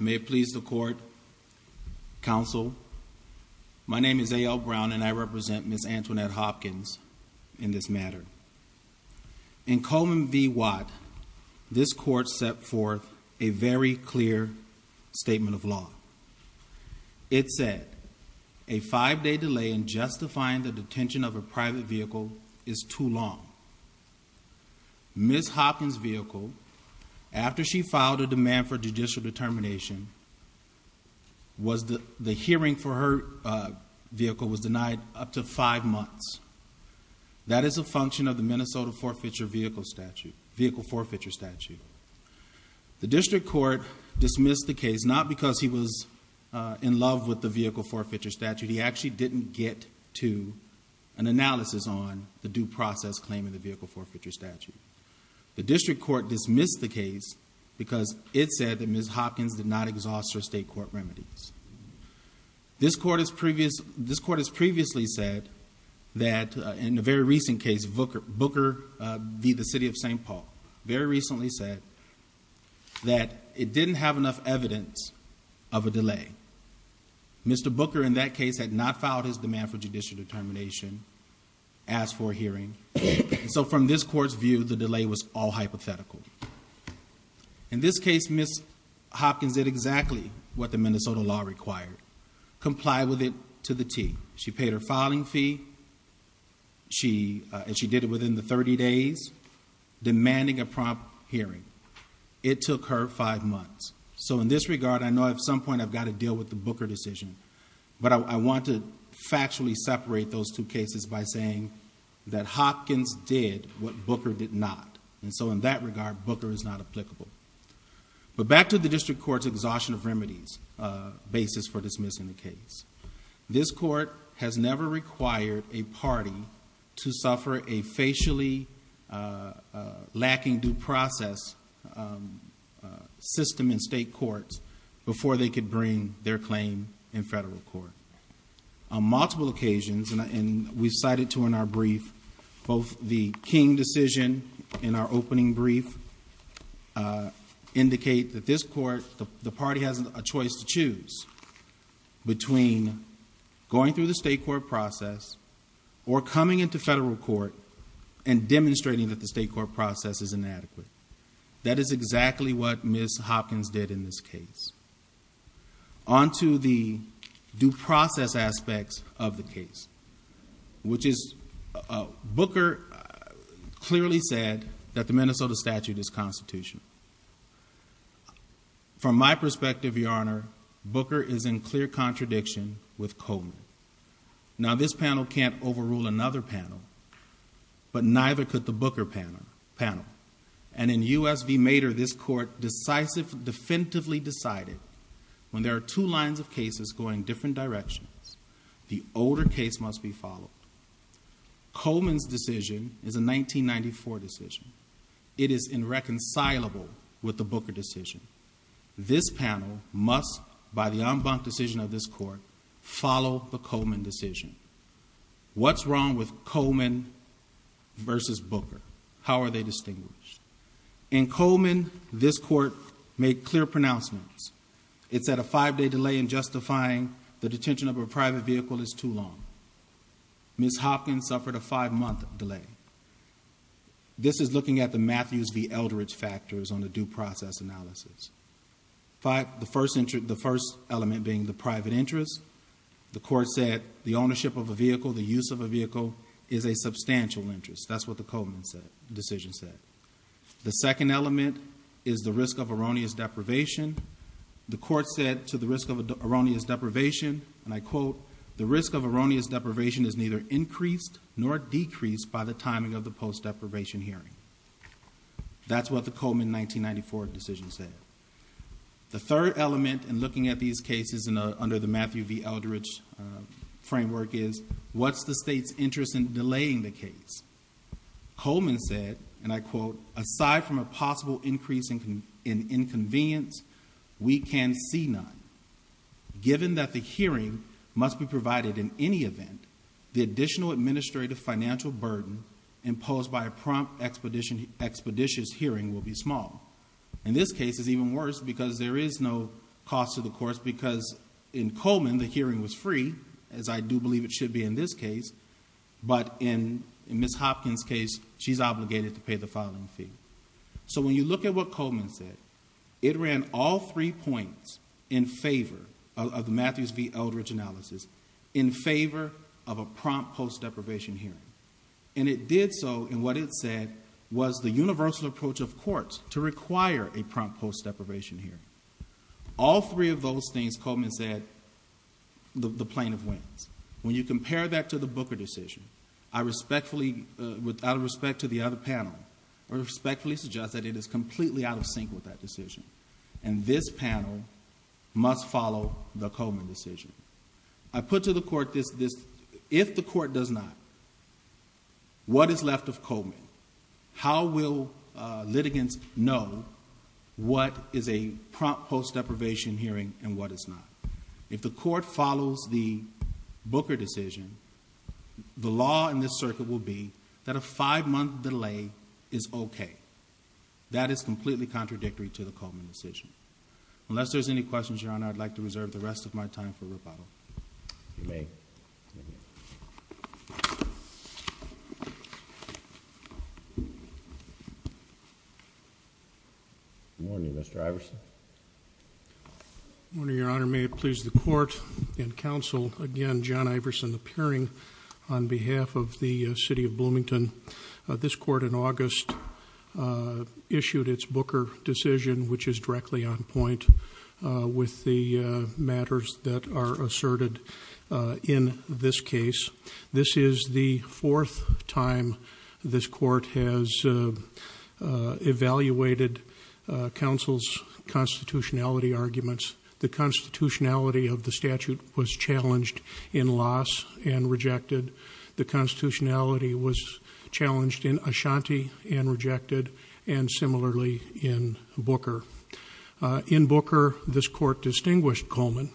May it please the Court, Counsel, my name is A.L. Brown and I represent Ms. Antonnette Hopkins in this matter. In Coleman v. Watt, this Court set forth a very clear statement of law. It said, a five-day delay in justifying the detention of a private vehicle is too long. Ms. Hopkins' vehicle, after she filed a demand for judicial determination, the hearing for her vehicle was denied up to five months. That is a function of the Minnesota Vehicle Forfeiture Statute. The District Court dismissed the case not because he was in love with the process claiming the Vehicle Forfeiture Statute. The District Court dismissed the case because it said that Ms. Hopkins did not exhaust her state court remedies. This Court has previously said that, in a very recent case, Booker v. The City of St. Paul, very recently said that it didn't have enough evidence of a delay. Mr. Booker, in that case, had not filed his hearing. From this Court's view, the delay was all hypothetical. In this case, Ms. Hopkins did exactly what the Minnesota law required, comply with it to the T. She paid her filing fee and she did it within the thirty days, demanding a prompt hearing. It took her five months. In this regard, I know at some point I've got to deal with the Booker decision, but I want to factually separate those two cases by saying that Hopkins did what Booker did not. In that regard, Booker is not applicable. Back to the District Court's exhaustion of remedies basis for dismissing the case. This Court has never required a party to suffer a facially lacking due process system in state courts before they could bring their claim in federal court. On multiple occasions, and we've cited two in our brief, both the King decision in our opening brief indicate that this Court, the party has a choice to choose between going through the state court process or coming into federal court and demonstrating that the state court process is inadequate. That is exactly what Ms. Hopkins did in this case. On to the due process aspects of the case, which is Booker clearly said that the Minnesota statute is constitutional. From my perspective, Your Honor, Booker is in clear contradiction with Coleman. Now this panel can't overrule another panel, but neither could the Booker panel. In U.S. v. Mader, this Court decisively, definitively decided when there are two lines of cases going different directions, the older case must be followed. Coleman's decision is a 1994 decision. It is irreconcilable with the Booker decision. This panel must, by the en banc decision of this Court, follow the Coleman decision. What's wrong with Coleman versus Booker? How are they distinguished? In Coleman, this Court made clear pronouncements. It said a five-day delay in justifying the detention of a private vehicle is too long. Ms. Hopkins suffered a five-month delay. This is looking at the Matthews v. Eldredge factors on the due process analysis. The first element being the private interest. The Court said the ownership of a vehicle, the use of a vehicle, is a substantial interest. That's what the Coleman decision said. The second element is the risk of erroneous deprivation. The Court said to the risk of erroneous deprivation, and I quote, the risk of erroneous deprivation is neither increased nor decreased by the timing of the post-deprivation hearing. That's what the Coleman 1994 decision said. The third element in looking at these cases under the Matthew v. Eldredge framework is what's the state's interest in delaying the case? Coleman said, and I quote, aside from a possible increase in inconvenience, we can see none. Given that the hearing must be provided in any event, the additional administrative financial burden imposed by a prompt expeditious hearing will be small. In this case, it's even worse because there is no cost to the courts because in Coleman, the hearing was free as I do believe it should be in this case, but in Ms. Hopkins' case, she's obligated to pay the filing fee. When you look at what Coleman said, it ran all three points in favor of the Matthews v. Eldredge analysis in favor of a prompt post-deprivation hearing. It did so in what it said was the universal approach of courts to require a prompt post-deprivation hearing. All three of those things, Coleman said, the plaintiff wins. When you compare that to the Booker decision, I respectfully, out of respect to the other panel, I respectfully suggest that it is completely out of sync with that decision. This panel must follow the Coleman decision. I put to the court this, if the court does not, what is left of Coleman? How will litigants know what is a prompt post-deprivation hearing and what is not? If the court follows the Booker decision, the law in this circuit will be that a five-month delay is okay. That is completely contradictory to the Coleman decision. Unless there's any questions, Your Honor, I will leave the rest of my time for rebuttal. Good morning, Mr. Iverson. Good morning, Your Honor. May it please the court and counsel, again, John Iverson appearing on behalf of the city of Bloomington. This court in August issued its Booker decision, which is directly on point with the matters that are asserted in this case. This is the fourth time this court has evaluated counsel's constitutionality arguments. The constitutionality of the statute was challenged in Loss and rejected. The constitutionality was challenged in Ashanti and rejected, and similarly in Booker. In Booker, this court distinguished Coleman,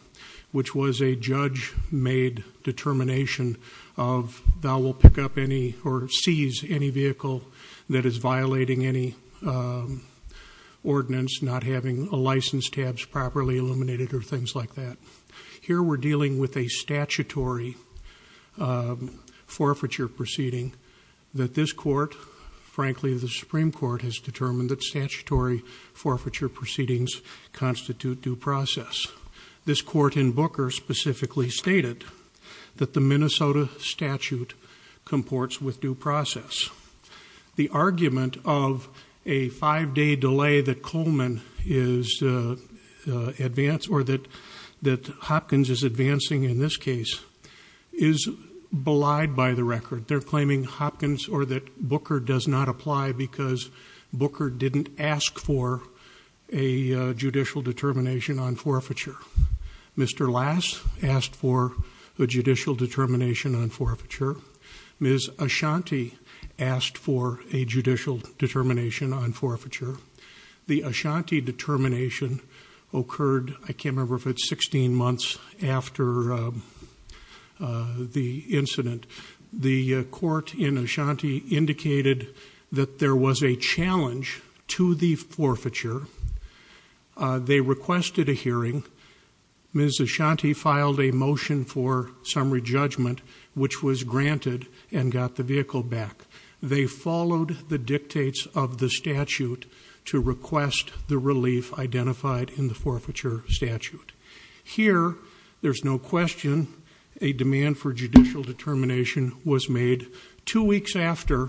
which was a judge-made determination of thou will pick up any or seize any vehicle that is violating any ordinance, not having license tabs properly illuminated or things like that. Here we're dealing with a statutory forfeiture proceeding that this court has determined, frankly, the Supreme Court has determined that statutory forfeiture proceedings constitute due process. This court in Booker specifically stated that the Minnesota statute comports with due process. The argument of a five-day delay that Coleman is advanced or that Hopkins is advancing in this case is belied by the record. They're claiming Hopkins or that Booker does not apply because Booker didn't ask for a judicial determination on forfeiture. Mr. Lass asked for a judicial determination on forfeiture. Ms. Ashanti asked for a judicial determination on forfeiture. The Ashanti determination occurred, I can't remember, in Ashanti indicated that there was a challenge to the forfeiture. They requested a hearing. Ms. Ashanti filed a motion for summary judgment, which was granted and got the vehicle back. They followed the dictates of the statute to request the relief identified in the forfeiture statute. Here, there's no question a demand for judicial determination was made two weeks after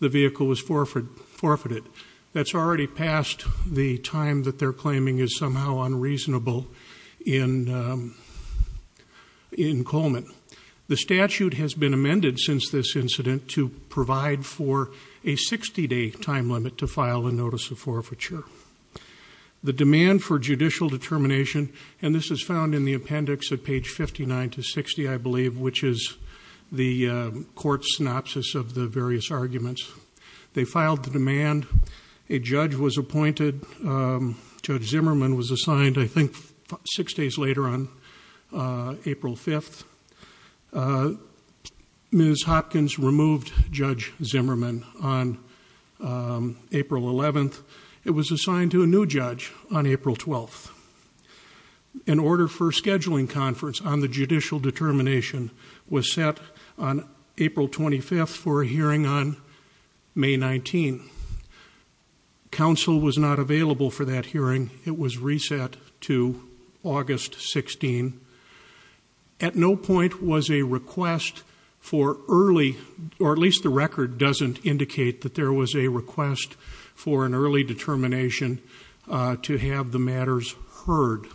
the vehicle was forfeited. That's already past the time that they're claiming is somehow unreasonable in Coleman. The statute has been amended since this incident to provide for a 60-day time limit to file a notice of forfeiture. The demand for judicial determination was approved by the court. The court's synopsis of the various arguments, they filed the demand. A judge was appointed. Judge Zimmerman was assigned, I think, six days later on April 5th. Ms. Hopkins removed Judge Zimmerman on April 11th. It was assigned to a new judge on April 12th. An order for scheduling conference on the judicial determination was set on April 25th for a hearing on May 19th. Counsel was not available for that hearing. It was reset to August 16th. At no point was a request for early, or at least the record doesn't indicate that there was a request for an early determination to have the matters heard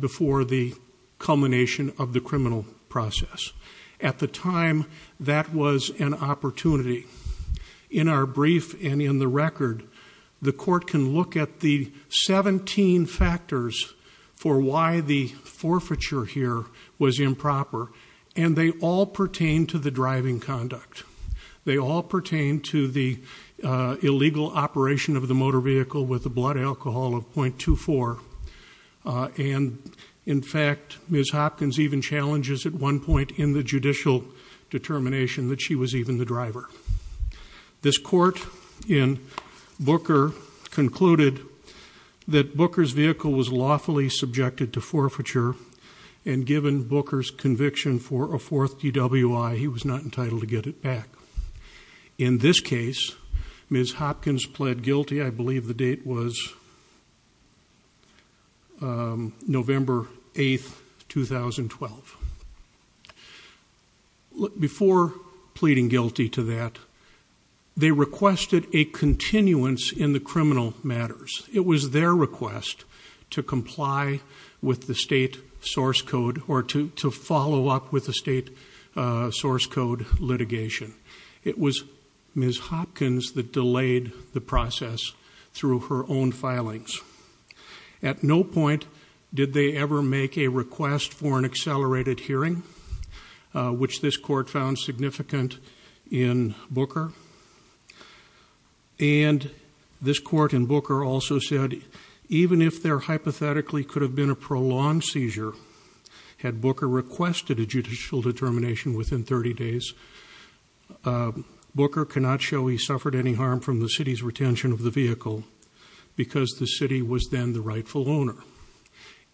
before the culmination of the criminal process. At the time, that was an opportunity. In our brief and in the record, the court can look at the 17 factors for why the forfeiture here was improper. They all pertain to the driving conduct. They all pertain to the illegal operation of the motor vehicle with the blood alcohol of .24. In fact, Ms. Hopkins even challenges at one point in the judicial determination that she was even the driver. This court in Booker concluded that Booker's vehicle was lawfully subjected to forfeiture and given Booker's conviction for a fourth DWI, he was not entitled to get it back. In this case, Ms. Hopkins pled guilty. I believe the date was November 8th, 2012. Before pleading guilty to that, they requested a continuance in the criminal matters. It was their request to comply with the state source code or to follow up with the state source code litigation. It was Ms. Hopkins that delayed the process through her own filings. At no point did they ever make a request for an accelerated hearing, which this court found significant in Booker. This court in Booker also said even if there hypothetically could have been a prolonged seizure had Booker requested a judicial determination within 30 days, Booker cannot show he suffered any harm from the city's retention of the vehicle because the city was then the rightful owner.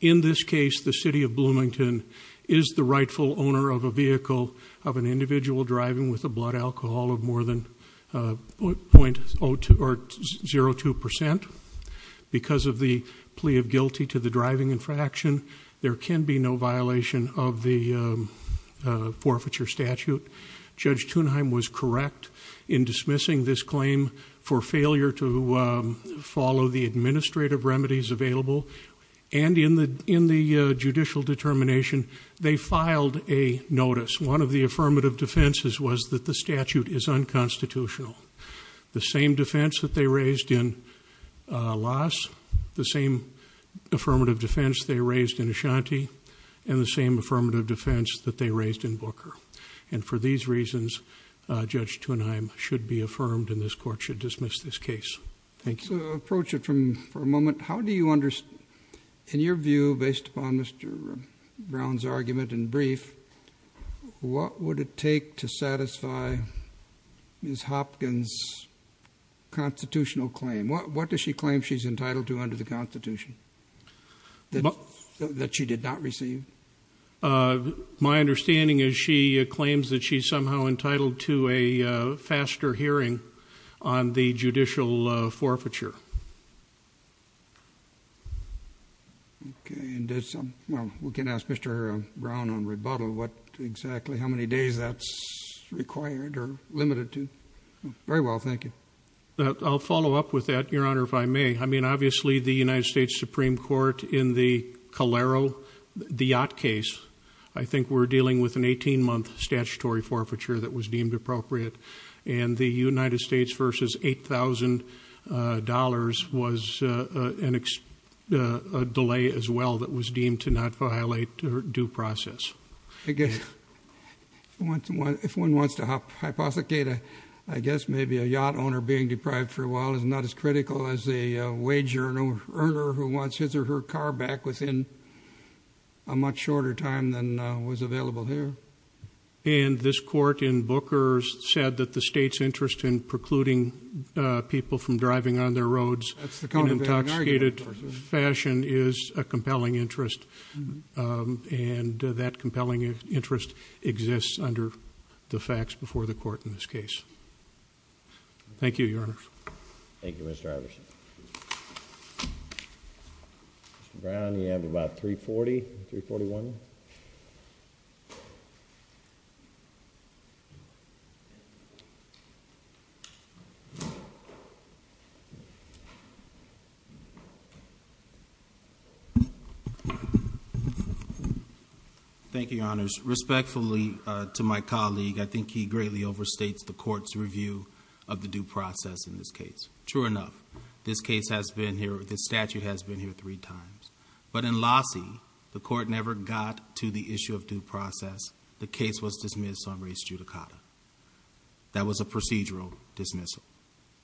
In this case, the city of Bloomington is the rightful owner of a vehicle of an individual driving with a blood alcohol of more than 0.02 percent. Because of the plea of guilty to the driving infraction, there can be no violation of the forfeiture statute. Judge Thunheim was correct in dismissing this claim for failure to follow the administrative remedies available. In the judicial determination, they filed a notice. One of the affirmative defenses was that the statute is unconstitutional. The same defense that they raised in Loss, the same affirmative defense they raised in Ashanti, and the same affirmative defense that they raised in Booker. For these reasons, Judge Thunheim should be affirmed and this court should dismiss this case. Thank you. Approach it for a moment. In your view, based upon Mr. Brown's argument and brief, what would it take to satisfy Ms. Hopkins' constitutional claim? What does she claim she's entitled to under the Constitution that she did not receive? My understanding is she claims that she's somehow entitled to a faster hearing on the judicial forfeiture. Okay. And we can ask Mr. Brown on rebuttal, what exactly, how many days does it take to get a hearing? How many days that's required or limited to. Very well, thank you. I'll follow up with that, Your Honor, if I may. I mean, obviously, the United States Supreme Court in the Calero, the yacht case, I think we're dealing with an 18-month statutory forfeiture that was deemed appropriate. And the United States versus $8,000 was a delay as well that was deemed to not violate due process. I guess if one wants to hypothecate, I guess maybe a yacht owner being deprived for a while is not as critical as a wage earner who wants his or her car back within a much shorter time than was available here. And this court in Booker's said that the state's interest in precluding people from driving on their roads in intoxicated fashion is a compelling interest. And that compelling interest exists under the facts before the court in this case. Thank you, Your Honor. Thank you, Mr. Iverson. Mr. Brown, you have about 340, 341. Thank you, Your Honors. Respectfully to my colleague, I think he greatly overstates the court's review of the due process in this case. True enough, this case has been here, this statute has been here three times. But in Lossie, the court never got to the issue of due process. The case was dismissed on race judicata. That was a procedural dismissal.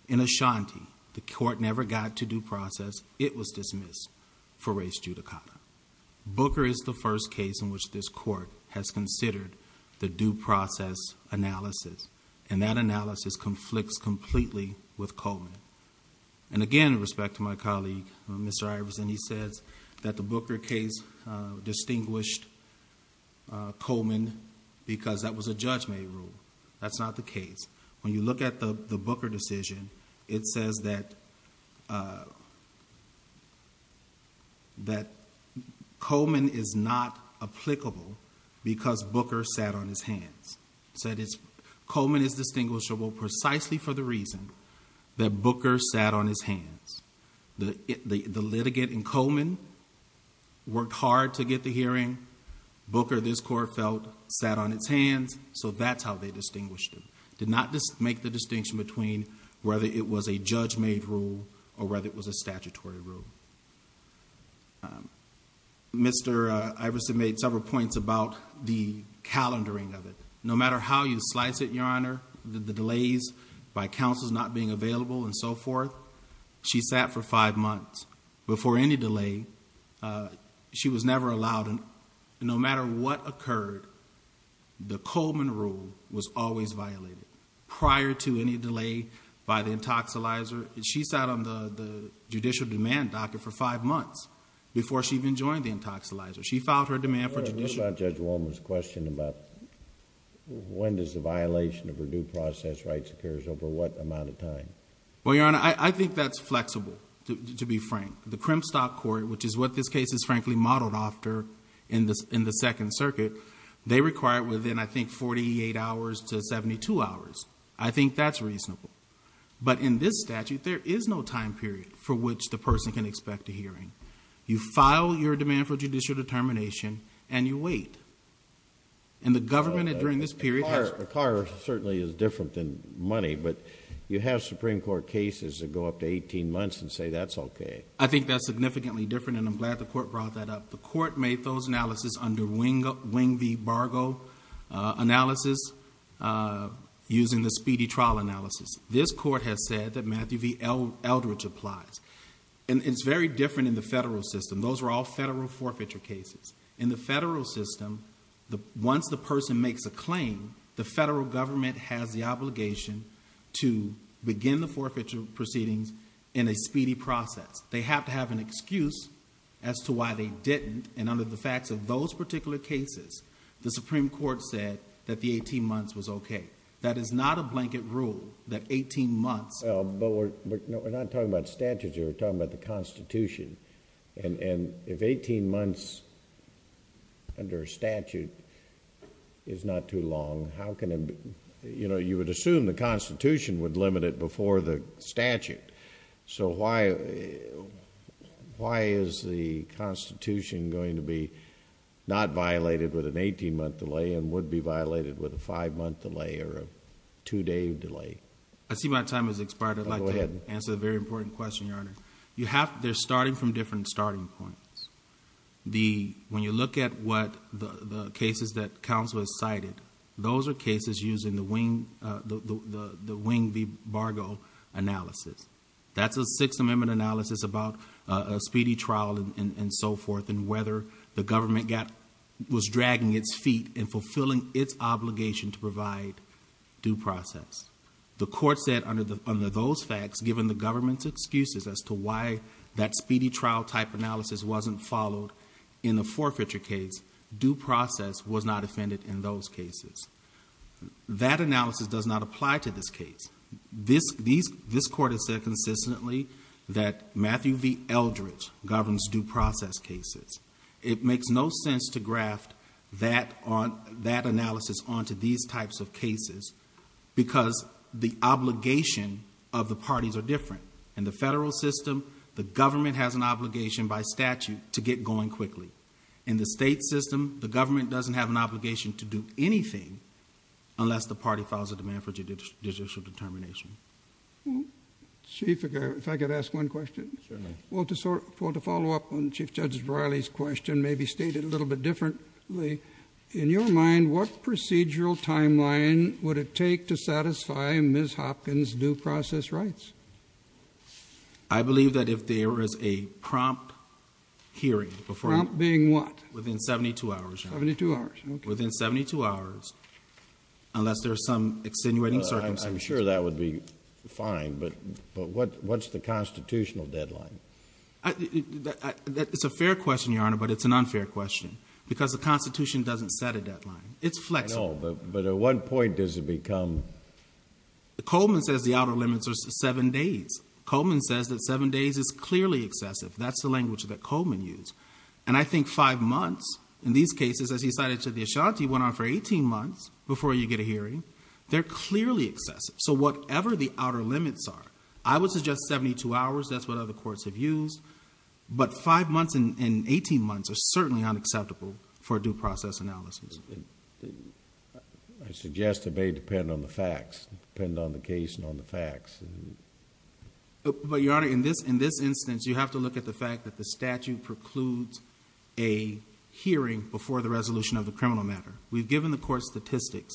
In Ashanti, the court never got to due process. It was dismissed for race judicata. Booker is the first case in which this court has considered the due process analysis. And that is why, Mr. Iverson, he says that the Booker case distinguished Coleman because that was a judge-made rule. That's not the case. When you look at the Booker decision, it says that Coleman is not applicable because Booker sat on his hands. Coleman is distinguishable precisely for the reason that Booker sat on his hands. The litigant in Coleman worked hard to get the hearing. Booker, this court felt, sat on his hands, so that's how they distinguished him. Did not make the distinction between whether it was a judge-made rule or whether it was a statutory rule. Mr. Iverson made several points about the calendaring of it. No matter how you slice it, Your Honor, the delays by counsels not being available and so forth, she sat for five months before any delay. She was never allowed, and no matter what occurred, the Coleman rule was always violated prior to any delay by the intoxilizer. She sat on the judicial demand docket for five months before she even joined the intoxilizer. She filed her demand for judicial... What about Judge Woolman's question about when does the violation of her due process rights occurs over what amount of time? Well, Your Honor, I think that's flexible, to be frank. The Crimstop Court, which is what this case is frankly modeled after in the Second Circuit, they require it within, I think, 48 hours to 72 hours. I think that's reasonable. In this statute, there is no time period for which the person can expect a hearing. You file your demand for judicial determination and you wait. The government during this period has... A car certainly is different than money, but you have Supreme Court cases that go up to 18 months and say that's okay. I think that's significantly different and I'm glad the Court brought that up. The Court made those analysis under Wing v. Bargo analysis using the speedy trial analysis. This Court has said that Matthew v. Eldridge applies. It's very different in the federal system. Those are all federal forfeiture cases. In the federal system, once the person makes a claim, the federal government has the obligation to begin the forfeiture proceedings in a speedy process. They have to have an excuse as to why they didn't and under the facts of those particular cases, the Supreme Court said that the 18 months was okay. That is not a blanket rule that 18 months... We're not talking about statutes here. We're talking about the Constitution. If 18 months under a statute is not too long, how can... You would assume the Constitution would limit it before the statute. Why is the Constitution going to be not violated with an 18-month delay and would be violated with a five-month delay or a two-day delay? I see my time has expired. I'd like to answer the very important question, Your Honor. They're starting from different starting points. When you look at the cases that counsel has cited, those are cases used in the Wing v. Bargo analysis. That's a Sixth Amendment analysis about a speedy trial and so forth and whether the government was dragging its feet and fulfilling its obligation to provide due process. The court said under those facts, given the government's excuses as to why that speedy trial type analysis wasn't followed in the forfeiture case, due process was not offended in those cases. That analysis does not apply to this case. This Matthew v. Eldredge governs due process cases. It makes no sense to graft that analysis onto these types of cases because the obligation of the parties are different. In the federal system, the government has an obligation by statute to get going quickly. In the state system, the government doesn't have an obligation to do anything unless the party files a demand for judicial determination. Chief, if I could ask one question. Certainly. Well, to follow up on Chief Judge O'Reilly's question, maybe state it a little bit differently. In your mind, what procedural timeline would it take to satisfy Ms. Hopkins' due process rights? I believe that if there is a prompt hearing before... Prompt being what? Within seventy-two hours, Your Honor. Seventy-two hours, okay. Within seventy-two hours, unless there's some extenuating circumstances... I'm sure that would be fine, but what's the constitutional deadline? It's a fair question, Your Honor, but it's an unfair question because the Constitution doesn't set a deadline. It's flexible. I know, but at what point does it become... Coleman says the outer limits are seven days. Coleman says that seven days is clearly excessive. That's the language that Coleman used. And I think five months, in these cases, as he said, is clearly excessive. So whatever the outer limits are, I would suggest seventy-two hours. That's what other courts have used. But five months and eighteen months are certainly unacceptable for due process analysis. I suggest it may depend on the facts, depend on the case and on the facts. But Your Honor, in this instance, you have to look at the fact that the statute precludes a hearing before the resolution of the criminal matter. We've given the court statistics,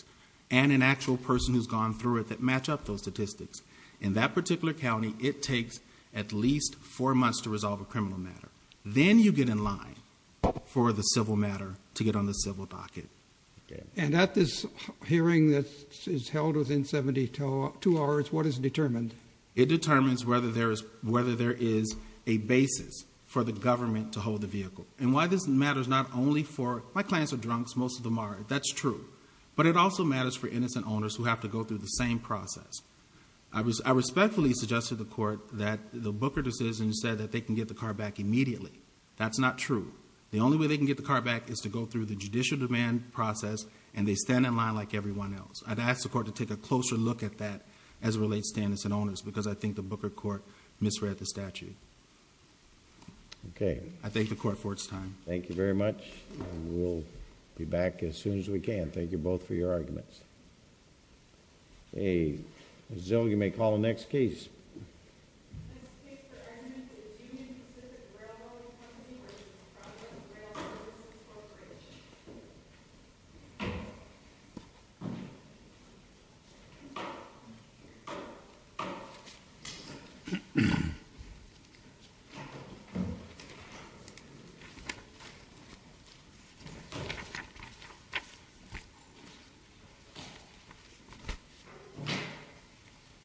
and an actual person who's gone through it that match up those statistics. In that particular county, it takes at least four months to resolve a criminal matter. Then you get in line for the civil matter to get on the civil docket. And at this hearing that is held within seventy-two hours, what is determined? It determines whether there is a basis for the government to hold the vehicle. And why this matters not only for... my clients are drunks. Most of them are. That's true. But it also matters for innocent owners who have to go through the same process. I respectfully suggested to the court that the Booker decision said that they can get the car back immediately. That's not true. The only way they can get the car back is to go through the judicial demand process, and they stand in line like everyone else. I'd ask the court to take a closer look at that as it relates to innocent owners because I think the Booker court misread the statute. I thank the court for its time. Thank you very much. We'll be back as soon as we can. Thank you both for your arguments. Hey, Ms. Zell, you may call the next case.